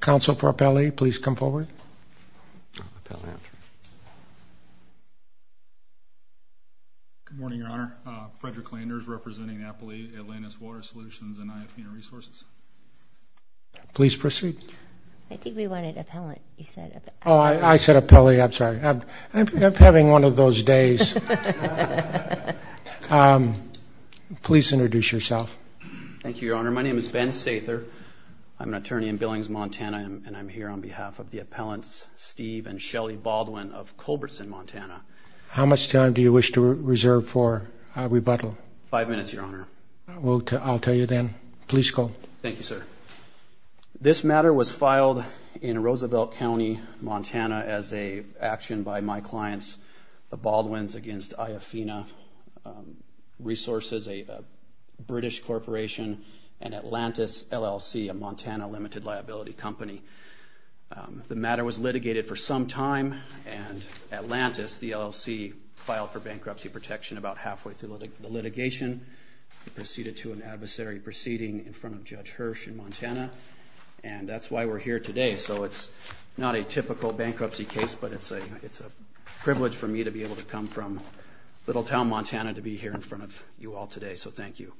Council for Appellee, please come forward. Appellee, after you. Good morning, Your Honor. Frederick Landers, representing NAPLI, Atlantis Water Solutions, and IAFINA Resources. Please proceed. I think we wanted appellant. You said appellee. Oh, I said appellee. I'm sorry. I'm having one of those days. Please introduce yourself. Thank you, Your Honor. My name is Ben Sather. I'm an attorney in Billings, Montana, and I'm here on behalf of the appellants Steve and Shelley Baldwin of Culberson, Montana. How much time do you wish to reserve for a rebuttal? Five minutes, Your Honor. I'll tell you then. Please go. Thank you, sir. This matter was filed in Roosevelt County, Montana, as an action by my clients, the Baldwins against IAFINA Resources, a British corporation, and Atlantis LLC, a Montana limited liability company. The matter was litigated for some time, and Atlantis, the LLC, filed for bankruptcy protection about halfway through the litigation. It proceeded to an adversary proceeding in front of Judge Hirsch in Montana, and that's why we're here today. So it's not a typical bankruptcy case, but it's a privilege for me to be able to come from little town Montana to be here in front of you all today. So thank you.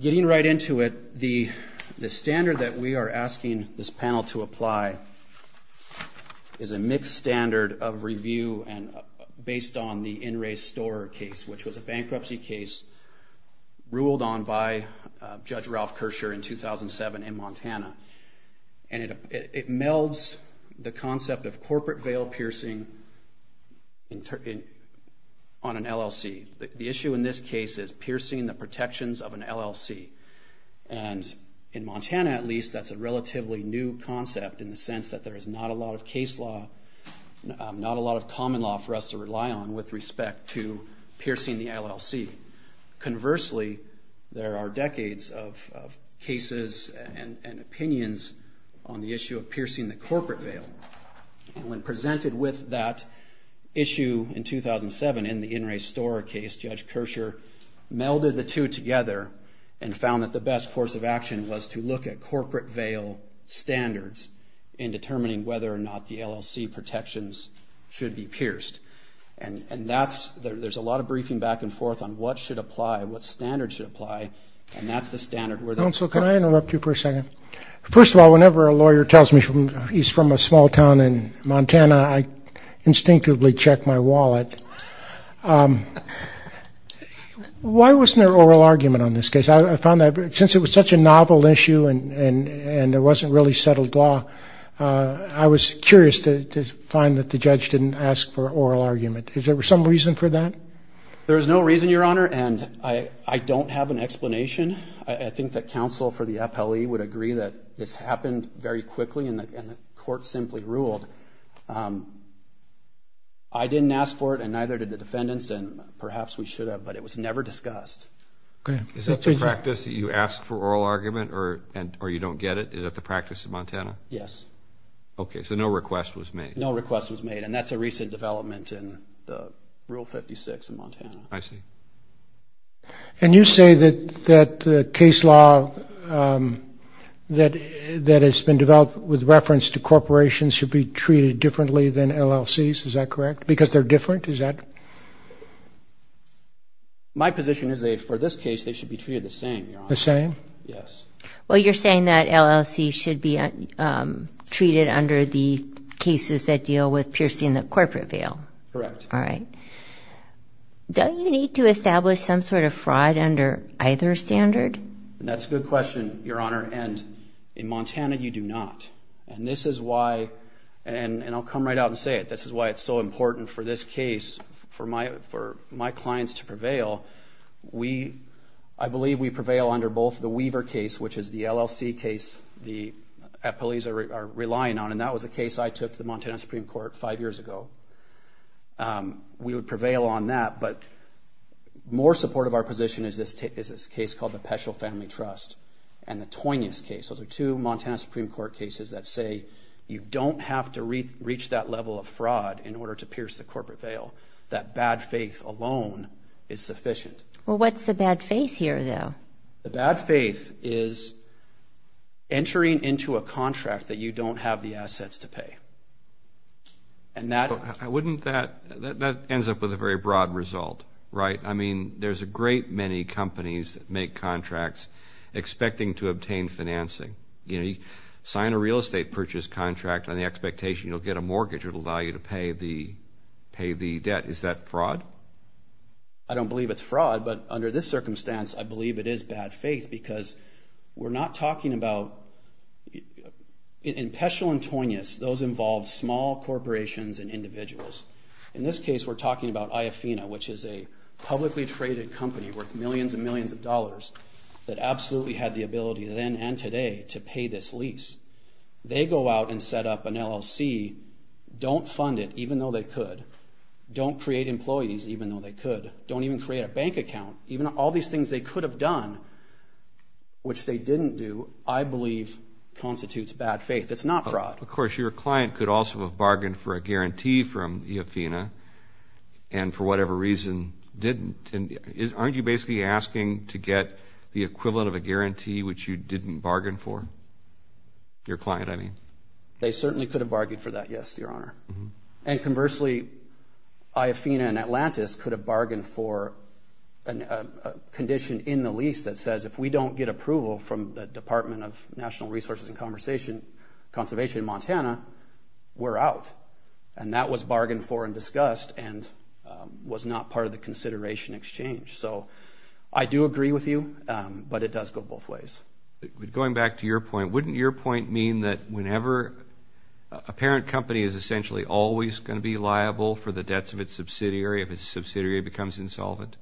Getting right into it, the standard that we are asking this panel to apply is a mixed standard of review based on the In Re Store case, which was a bankruptcy case ruled on by Judge Ralph Kersher in 2007 in Montana. And it melds the concept of corporate veil piercing on an LLC. The issue in this case is piercing the protections of an LLC. And in Montana, at least, that's a relatively new concept in the sense that there is not a lot of case law, not a lot of common law for us to rely on with respect to piercing the LLC. Conversely, there are decades of cases and opinions on the issue of piercing the corporate veil. And when presented with that issue in 2007 in the In Re Store case, Judge Kersher melded the two together and found that the best course of action was to look at corporate veil standards in determining whether or not the LLC protections should be pierced. And that's – there's a lot of briefing back and forth on what should apply, what standards should apply, and that's the standard where the – Counsel, can I interrupt you for a second? First of all, whenever a lawyer tells me he's from a small town in Montana, I instinctively check my wallet. Why wasn't there an oral argument on this case? I found that since it was such a novel issue and there wasn't really settled law, I was curious to find that the judge didn't ask for oral argument. Is there some reason for that? There is no reason, Your Honor, and I don't have an explanation. I think that counsel for the FLE would agree that this happened very quickly and the court simply ruled. I didn't ask for it and neither did the defendants, and perhaps we should have, but it was never discussed. Go ahead. Is that the practice that you ask for oral argument or you don't get it? Is that the practice in Montana? Yes. Okay, so no request was made. No request was made, and that's a recent development in Rule 56 in Montana. I see. And you say that the case law that has been developed with reference to corporations should be treated differently than LLCs, is that correct? Because they're different, is that correct? My position is that for this case, they should be treated the same, Your Honor. The same? Yes. Well, you're saying that LLCs should be treated under the cases that deal with piercing the corporate veil. Correct. All right. Don't you need to establish some sort of fraud under either standard? That's a good question, Your Honor, and in Montana you do not. And this is why, and I'll come right out and say it, this is why it's so important for this case, for my clients to prevail. I believe we prevail under both the Weaver case, which is the LLC case the employees are relying on, and that was a case I took to the Montana Supreme Court five years ago. We would prevail on that, but more supportive of our position is this case called the Peschel Family Trust and the Toynias case. Those are two Montana Supreme Court cases that say you don't have to reach that level of fraud in order to pierce the corporate veil. That bad faith alone is sufficient. Well, what's the bad faith here, though? The bad faith is entering into a contract that you don't have the assets to pay. That ends up with a very broad result, right? I mean, there's a great many companies that make contracts expecting to obtain financing. You sign a real estate purchase contract on the expectation you'll get a mortgage that will allow you to pay the debt. Is that fraud? I don't believe it's fraud, but under this circumstance, I believe it is bad faith because we're not talking about, in Peschel and Toynias, those involve small corporations and individuals. In this case, we're talking about IAFINA, which is a publicly traded company worth millions and millions of dollars that absolutely had the ability then and today to pay this lease. They go out and set up an LLC, don't fund it even though they could, don't create employees even though they could, don't even create a bank account. Even all these things they could have done, which they didn't do, I believe constitutes bad faith. It's not fraud. Of course, your client could also have bargained for a guarantee from IAFINA and for whatever reason didn't. Aren't you basically asking to get the equivalent of a guarantee which you didn't bargain for? Your client, I mean. They certainly could have bargained for that, yes, Your Honor. And conversely, IAFINA and Atlantis could have bargained for a condition in the lease that says if we don't get approval from the Department of National Resources and Conservation in Montana, we're out. And that was bargained for and discussed and was not part of the consideration exchange. So I do agree with you, but it does go both ways. Going back to your point, wouldn't your point mean that whenever a parent company is essentially always going to be liable for the debts of its subsidiary if its subsidiary becomes insolvent?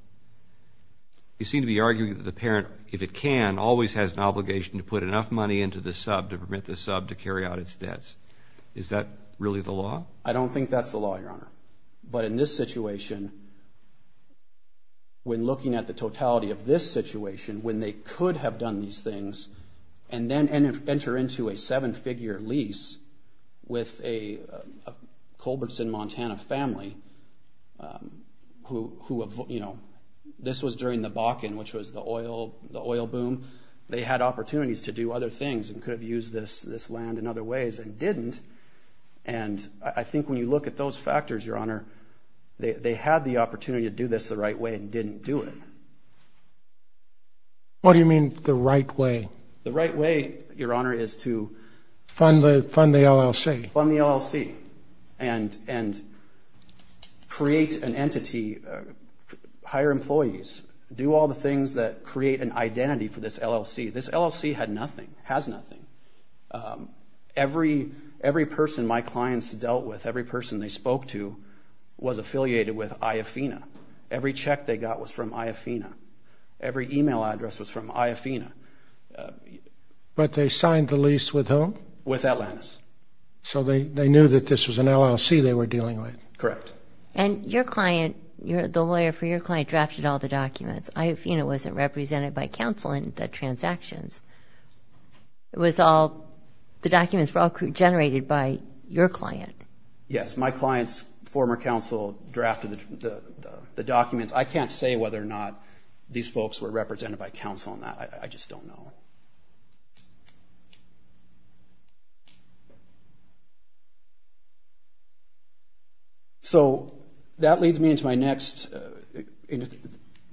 You seem to be arguing that the parent, if it can, always has an obligation to put enough money into the sub to permit the sub to carry out its debts. Is that really the law? I don't think that's the law, Your Honor. But in this situation, when looking at the totality of this situation, when they could have done these things and then enter into a seven-figure lease with a Culbertson, Montana family who, you know, this was during the Bakken, which was the oil boom. They had opportunities to do other things and could have used this land in other ways and didn't, and I think when you look at those factors, Your Honor, they had the opportunity to do this the right way and didn't do it. What do you mean the right way? The right way, Your Honor, is to fund the LLC and create an entity, hire employees, do all the things that create an identity for this LLC. This LLC had nothing, has nothing. Every person my clients dealt with, every person they spoke to, was affiliated with IAFINA. Every check they got was from IAFINA. Every e-mail address was from IAFINA. But they signed the lease with whom? With Atlantis. So they knew that this was an LLC they were dealing with? Correct. And your client, the lawyer for your client drafted all the documents. IAFINA wasn't represented by counsel in the transactions. It was all, the documents were all generated by your client. Yes, my client's former counsel drafted the documents. I can't say whether or not these folks were represented by counsel on that. I just don't know. So that leads me into my next,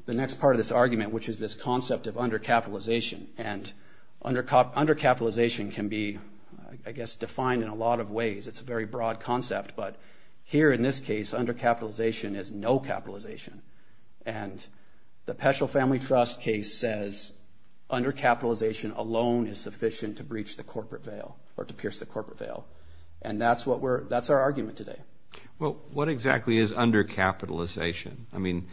the next part of this argument, which is this concept of undercapitalization. And undercapitalization can be, I guess, defined in a lot of ways. It's a very broad concept. But here in this case, undercapitalization is no capitalization. And the Peschel Family Trust case says undercapitalization alone is sufficient to breach the corporate veil or to pierce the corporate veil. And that's what we're, that's our argument today. Well, what exactly is undercapitalization? I mean,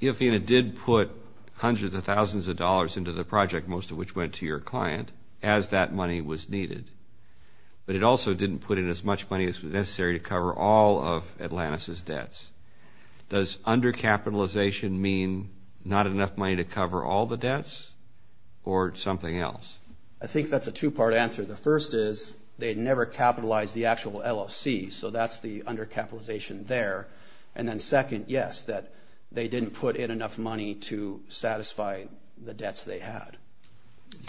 IAFINA did put hundreds of thousands of dollars into the project, most of which went to your client, as that money was needed. But it also didn't put in as much money as was necessary to cover all of Atlantis' debts. Does undercapitalization mean not enough money to cover all the debts or something else? I think that's a two-part answer. The first is they never capitalized the actual LLC. So that's the undercapitalization there. And then second, yes, that they didn't put in enough money to satisfy the debts they had.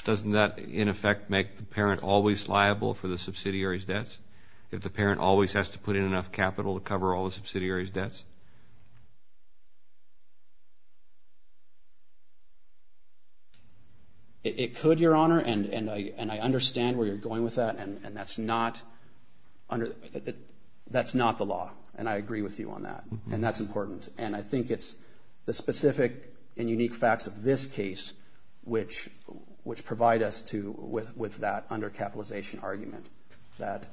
Doesn't that, in effect, make the parent always liable for the subsidiary's debts if the parent always has to put in enough capital to cover all the subsidiary's debts? It could, Your Honor, and I understand where you're going with that. And that's not under, that's not the law. And I agree with you on that. And that's important. And I think it's the specific and unique facts of this case which provide us with that undercapitalization argument, that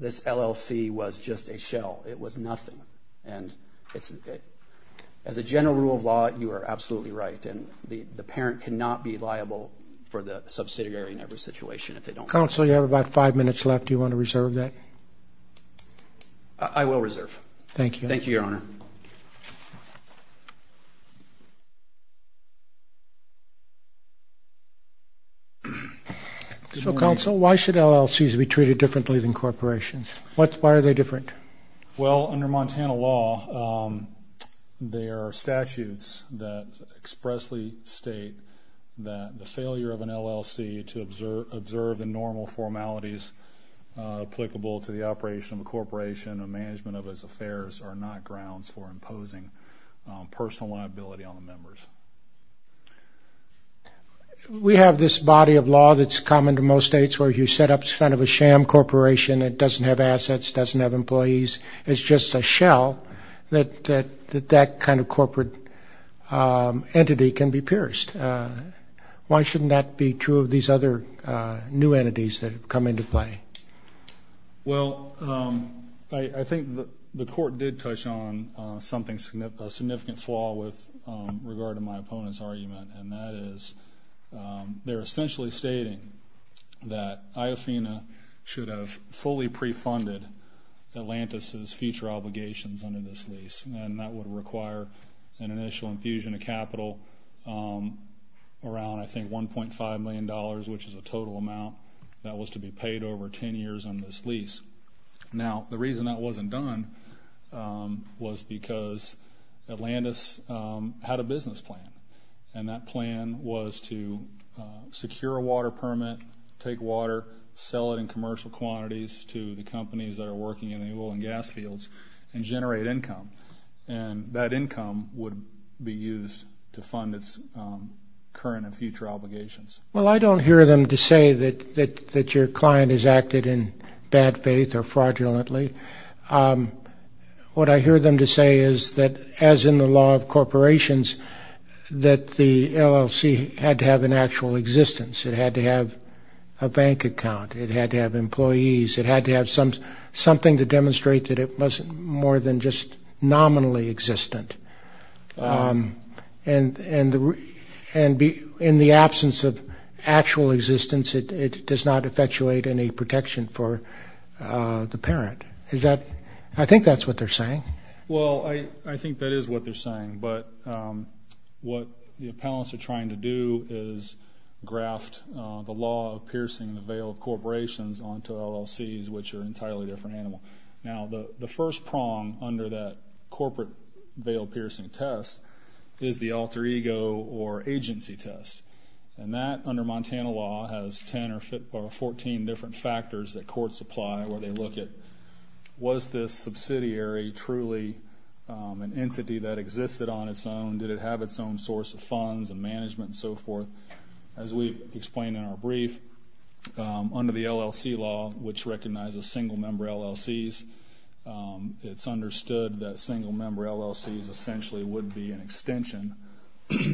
this LLC was just a shell. It was nothing. And as a general rule of law, you are absolutely right. And the parent cannot be liable for the subsidiary in every situation if they don't pay. Counsel, you have about five minutes left. Do you want to reserve that? I will reserve. Thank you. Thank you, Your Honor. So, Counsel, why should LLCs be treated differently than corporations? Why are they different? Well, under Montana law, there are statutes that expressly state that the management of his affairs are not grounds for imposing personal liability on the members. We have this body of law that's common to most states where you set up kind of a sham corporation that doesn't have assets, doesn't have employees. It's just a shell that that kind of corporate entity can be pierced. Why shouldn't that be true of these other new entities that have come into play? Well, I think the court did touch on something, a significant flaw with regard to my opponent's argument, and that is they're essentially stating that IAFINA should have fully pre-funded Atlantis' future obligations under this lease, and that would require an initial infusion of capital around, I think, $1.5 million, which is a total amount that was to be paid over 10 years on this lease. Now, the reason that wasn't done was because Atlantis had a business plan, and that plan was to secure a water permit, take water, sell it in commercial quantities to the companies that are working in the oil and gas fields and generate income, and that income would be used to fund its current and future obligations. Well, I don't hear them to say that your client has acted in bad faith or fraudulently. What I hear them to say is that, as in the law of corporations, that the LLC had to have an actual existence. It had to have a bank account. It had to have employees. It had to have something to demonstrate that it wasn't more than just nominally existent. And in the absence of actual existence, it does not effectuate any protection for the parent. I think that's what they're saying. Well, I think that is what they're saying, but what the appellants are trying to do is graft the law of piercing the veil of corporations onto LLCs, which are an entirely different animal. Now, the first prong under that corporate veil piercing test is the alter ego or agency test, and that, under Montana law, has 10 or 14 different factors that courts apply where they look at, was this subsidiary truly an entity that existed on its own? Did it have its own source of funds and management and so forth? As we've explained in our brief, under the LLC law, which recognizes single-member LLCs, it's understood that single-member LLCs essentially would be an extension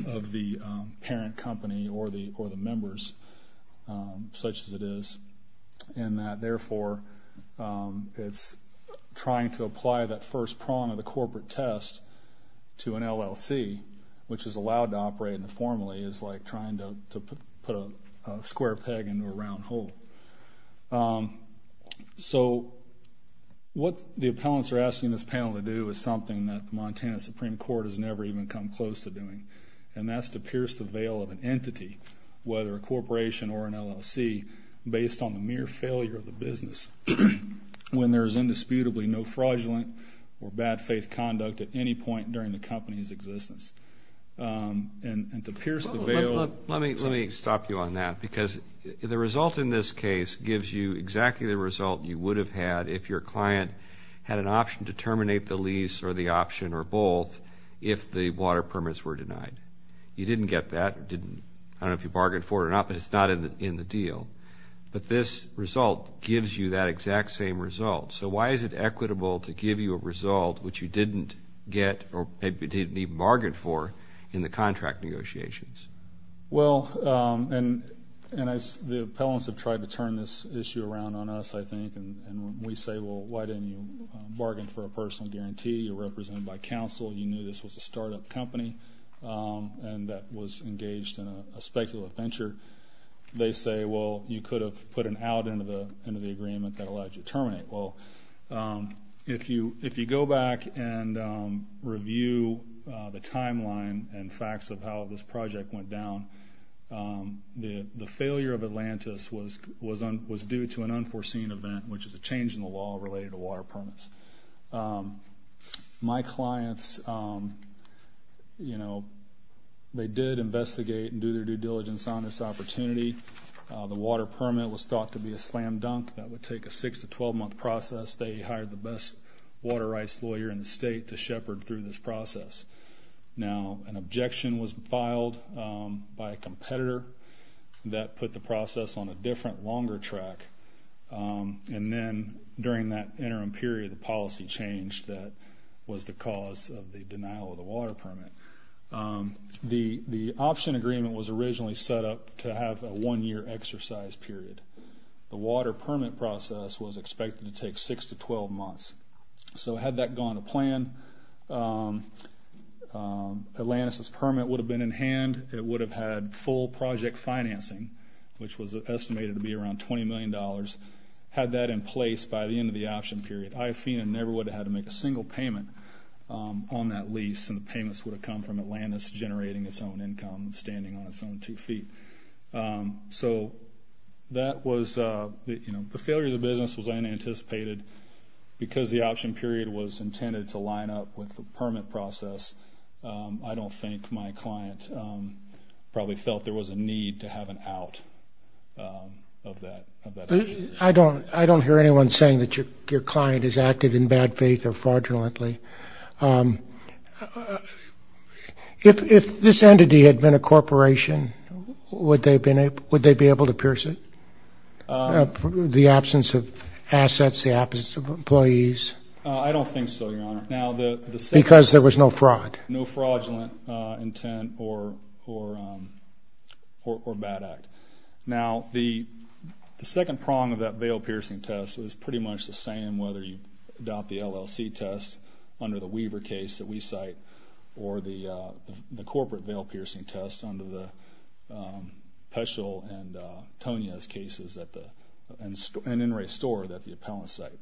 of the parent company or the members, such as it is, and that, therefore, it's trying to apply that first prong of the corporate test to an LLC, which is allowed to operate informally, is like trying to put a square peg into a round hole. So what the appellants are asking this panel to do is something that the Montana Supreme Court has never even come close to doing, and that's to pierce the veil of an entity, whether a corporation or an LLC, based on the mere failure of the business. When there is indisputably no fraudulent or bad faith conduct at any point during the company's existence. And to pierce the veil. Let me stop you on that because the result in this case gives you exactly the result you would have had if your client had an option to terminate the lease or the option or both if the water permits were denied. You didn't get that. I don't know if you bargained for it or not, but it's not in the deal. But this result gives you that exact same result. So why is it equitable to give you a result which you didn't get or didn't even bargain for in the contract negotiations? Well, and the appellants have tried to turn this issue around on us, I think. And we say, well, why didn't you bargain for a personal guarantee? You're represented by counsel. You knew this was a startup company and that was engaged in a speculative venture. They say, well, you could have put an out into the agreement that allowed you to terminate. Well, if you go back and review the timeline and facts of how this project went down, the failure of Atlantis was due to an unforeseen event, which is a change in the law related to water permits. My clients, you know, they did investigate and do their due diligence on this opportunity. The water permit was thought to be a slam dunk that would take a 6- to 12-month process. They hired the best water rights lawyer in the state to shepherd through this process. Now, an objection was filed by a competitor that put the process on a different, longer track. And then during that interim period, the policy changed. That was the cause of the denial of the water permit. The option agreement was originally set up to have a one-year exercise period. The water permit process was expected to take 6- to 12-months. So had that gone to plan, Atlantis' permit would have been in hand. It would have had full project financing, which was estimated to be around $20 million. Had that in place by the end of the option period, IAFINA never would have had to make a single payment on that lease, and the payments would have come from Atlantis generating its own income and standing on its own two feet. So that was, you know, the failure of the business was unanticipated. Because the option period was intended to line up with the permit process, I don't think my client probably felt there was a need to have an out of that option. I don't hear anyone saying that your client has acted in bad faith or fraudulently. If this entity had been a corporation, would they be able to pierce it? The absence of assets, the absence of employees? I don't think so, Your Honor. Because there was no fraud. No fraudulent intent or bad act. Now, the second prong of that veil-piercing test was pretty much the same, whether you adopt the LLC test under the Weaver case that we cite or the corporate veil-piercing test under the Peschel and Tonia's cases and NRA Store that the appellants cite.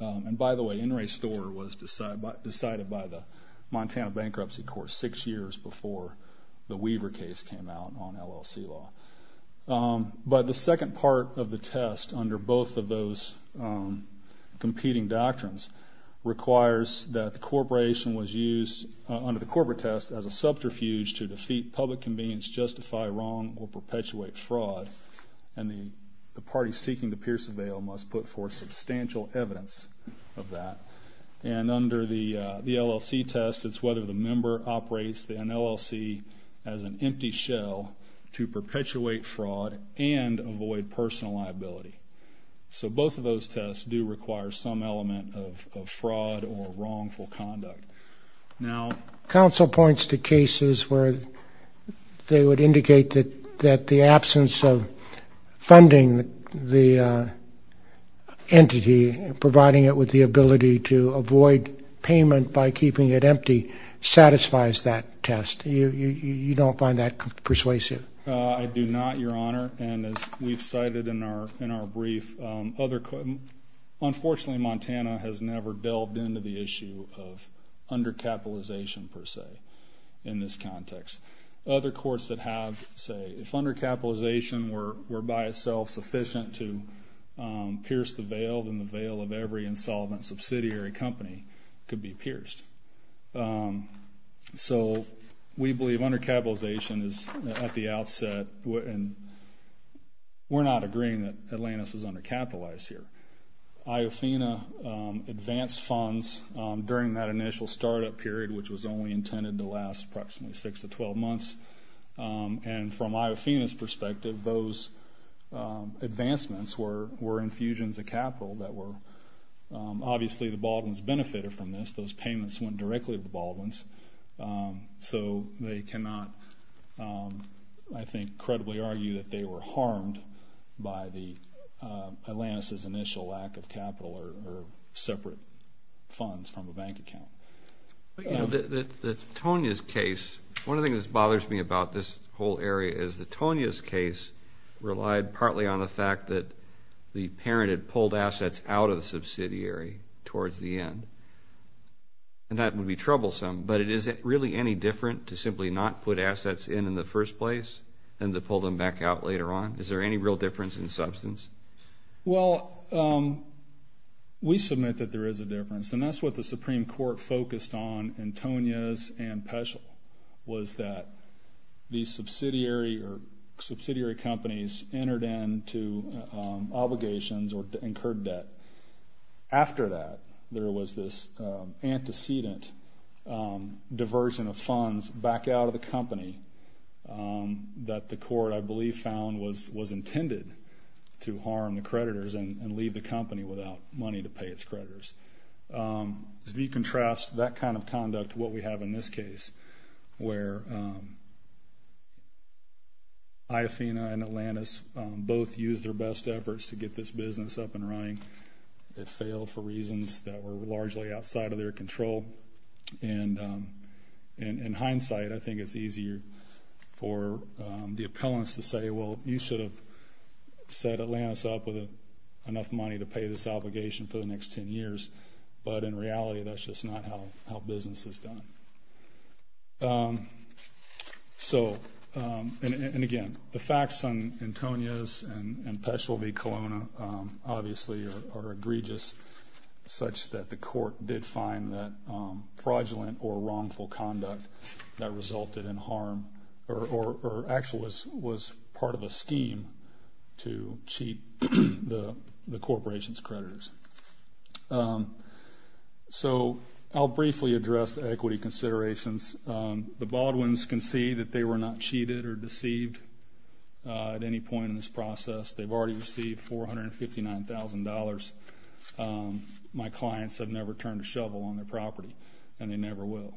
And by the way, NRA Store was decided by the Montana Bankruptcy Court six years before the Weaver case came out on LLC law. But the second part of the test under both of those competing doctrines requires that the corporation was used under the corporate test as a subterfuge to defeat public convenience, justify wrong, or perpetuate fraud. And the party seeking to pierce a veil must put forth substantial evidence of that. And under the LLC test, it's whether the member operates an LLC as an empty shell to perpetuate fraud and avoid personal liability. So both of those tests do require some element of fraud or wrongful conduct. Counsel points to cases where they would indicate that the absence of funding the entity and providing it with the ability to avoid payment by keeping it empty satisfies that test. You don't find that persuasive? I do not, Your Honor. And as we've cited in our brief, unfortunately Montana has never delved into the issue of undercapitalization per se in this context. Other courts that have say if undercapitalization were by itself sufficient to pierce the veil, then the veil of every insolvent subsidiary company could be pierced. So we believe undercapitalization is at the outset, we're not agreeing that Atlantis is undercapitalized here. Iofina advanced funds during that initial startup period, which was only intended to last approximately six to 12 months. And from Iofina's perspective, those advancements were infusions of capital that were, obviously the Baldwins benefited from this. Those payments went directly to the Baldwins. So they cannot, I think, credibly argue that they were harmed by Atlantis' initial lack of capital or separate funds from a bank account. But, you know, the Tonia's case, one of the things that bothers me about this whole area is the Tonia's case relied partly on the fact that the parent had pulled assets out of the subsidiary towards the end. And that would be troublesome, but is it really any different to simply not put assets in in the first place than to pull them back out later on? Is there any real difference in substance? Well, we submit that there is a difference, and that's what the Supreme Court focused on in Tonia's and Peschel, was that the subsidiary or subsidiary companies entered into obligations or incurred debt. After that, there was this antecedent diversion of funds back out of the company that the court, I believe, found was intended to harm the creditors and leave the company without money to pay its creditors. If you contrast that kind of conduct to what we have in this case, where IAFINA and Atlantis both used their best efforts to get this business up and running. It failed for reasons that were largely outside of their control. And in hindsight, I think it's easier for the appellants to say, well, you should have set Atlantis up with enough money to pay this obligation for the next 10 years. But in reality, that's just not how business is done. So, and again, the facts on Tonia's and Peschel v. Colonna obviously are egregious, such that the court did find that fraudulent or wrongful conduct that resulted in harm or actually was part of a scheme to cheat the corporation's creditors. So I'll briefly address the equity considerations. The Baldwins can see that they were not cheated or deceived at any point in this process. They've already received $459,000. My clients have never turned a shovel on their property, and they never will.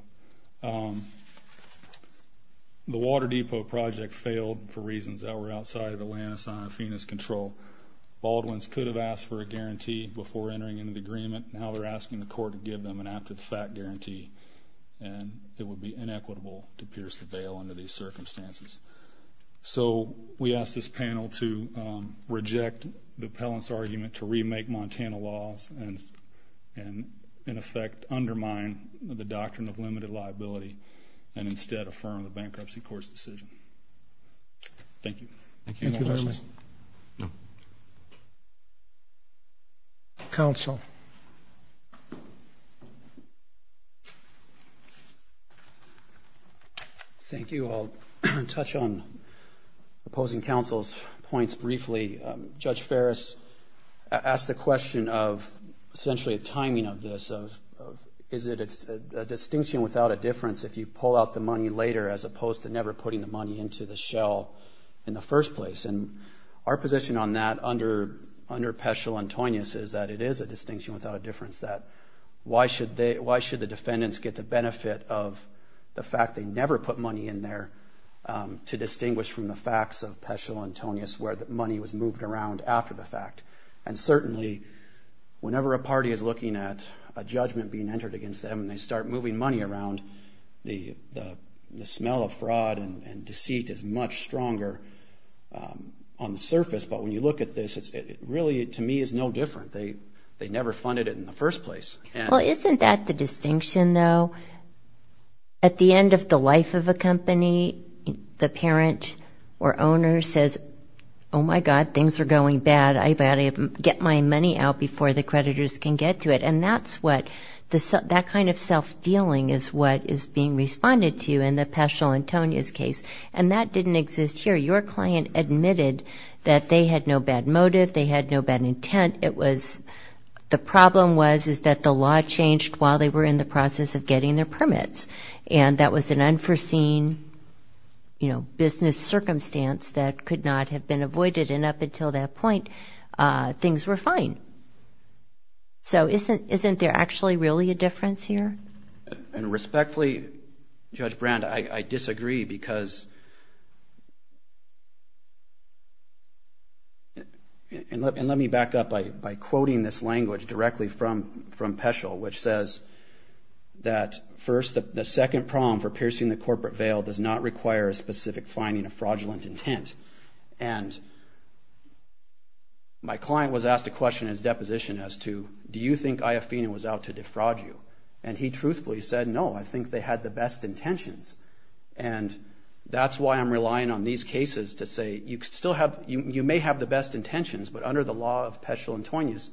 The Water Depot project failed for reasons that were outside of Atlantis IAFINA's control. Baldwins could have asked for a guarantee before entering into the agreement. Now they're asking the court to give them an apt-to-the-fact guarantee, and it would be inequitable to pierce the veil under these circumstances. So we ask this panel to reject the appellant's argument to remake Montana laws and, in effect, undermine the doctrine of limited liability and instead affirm the bankruptcy court's decision. Thank you. Thank you very much. Counsel. Counsel. Thank you. I'll touch on opposing counsel's points briefly. Judge Ferris asked the question of essentially a timing of this, of is it a distinction without a difference if you pull out the money later as opposed to never putting the money into the shell in the first place. And our position on that under Peschel-Antonius is that it is a distinction without a difference, that why should the defendants get the benefit of the fact they never put money in there to distinguish from the facts of Peschel-Antonius where the money was moved around after the fact. And certainly, whenever a party is looking at a judgment being entered against them and they start moving money around, the smell of fraud and deceit is much stronger on the surface. But when you look at this, it really, to me, is no different. They never funded it in the first place. Well, isn't that the distinction, though? At the end of the life of a company, the parent or owner says, oh, my God, things are going bad. I've got to get my money out before the creditors can get to it. And that kind of self-dealing is what is being responded to in the Peschel-Antonius case. And that didn't exist here. Your client admitted that they had no bad motive, they had no bad intent. It was the problem was is that the law changed while they were in the process of getting their permits. And that was an unforeseen, you know, business circumstance that could not have been avoided. And up until that point, things were fine. So isn't there actually really a difference here? And respectfully, Judge Brand, I disagree because, and let me back up by quoting this language directly from Peschel, which says that first, the second prong for piercing the corporate veil does not require a specific finding of fraudulent intent. And my client was asked a question in his deposition as to, do you think IAFINA was out to defraud you? And he truthfully said, no, I think they had the best intentions. And that's why I'm relying on these cases to say you may have the best intentions, but under the law of Peschel-Antonius,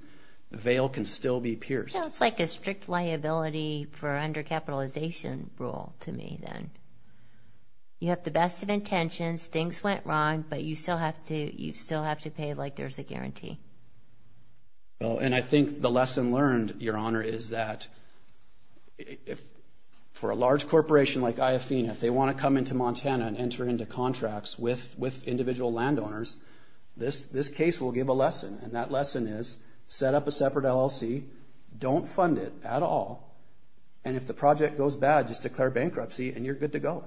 the veil can still be pierced. It's like a strict liability for undercapitalization rule to me then. You have the best of intentions, things went wrong, but you still have to pay like there's a guarantee. And I think the lesson learned, Your Honor, is that for a large corporation like IAFINA, if they want to come into Montana and enter into contracts with individual landowners, this case will give a lesson. And that lesson is, set up a separate LLC, don't fund it at all, and if the project goes bad, just declare bankruptcy and you're good to go.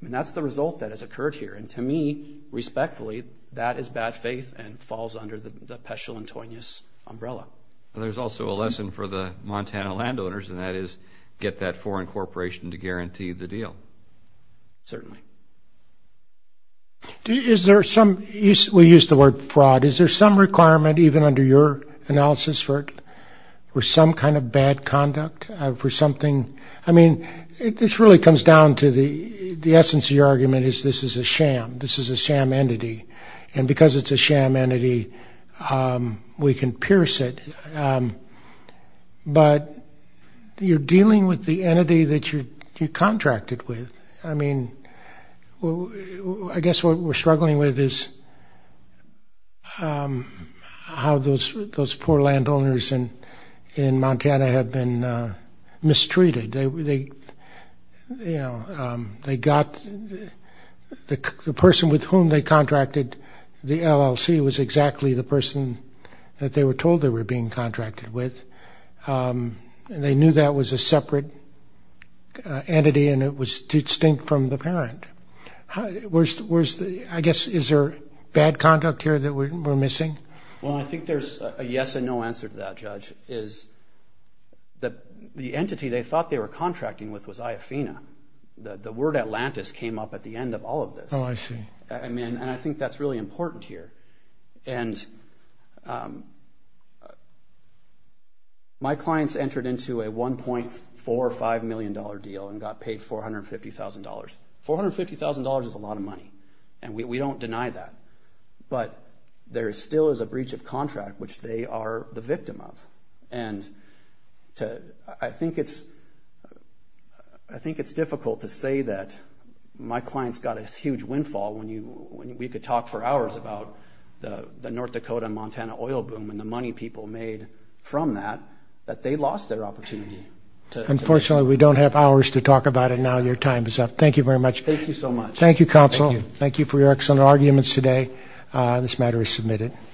And that's the result that has occurred here. And to me, respectfully, that is bad faith and falls under the Peschel-Antonius umbrella. There's also a lesson for the Montana landowners, and that is, get that foreign corporation to guarantee the deal. Certainly. Is there some, we use the word fraud, is there some requirement, even under your analysis, for some kind of bad conduct for something? I mean, this really comes down to the essence of your argument is this is a sham. This is a sham entity. And because it's a sham entity, we can pierce it. But you're dealing with the entity that you contracted with. I mean, I guess what we're struggling with is how those poor landowners in Montana have been mistreated. The person with whom they contracted the LLC was exactly the person that they were told they were being contracted with. And they knew that was a separate entity and it was distinct from the parent. I guess, is there bad conduct here that we're missing? Well, I think there's a yes and no answer to that, Judge. The entity they thought they were contracting with was IAFINA. The word Atlantis came up at the end of all of this. Oh, I see. I mean, and I think that's really important here. And my clients entered into a $1.45 million deal and got paid $450,000. $450,000 is a lot of money, and we don't deny that. But there still is a breach of contract, which they are the victim of. And I think it's difficult to say that my clients got a huge windfall when we could talk for hours about the North Dakota-Montana oil boom and the money people made from that, that they lost their opportunity. Unfortunately, we don't have hours to talk about it now. Your time is up. Thank you very much. Thank you so much. Thank you, Counsel. Thank you for your excellent arguments today. This matter is submitted.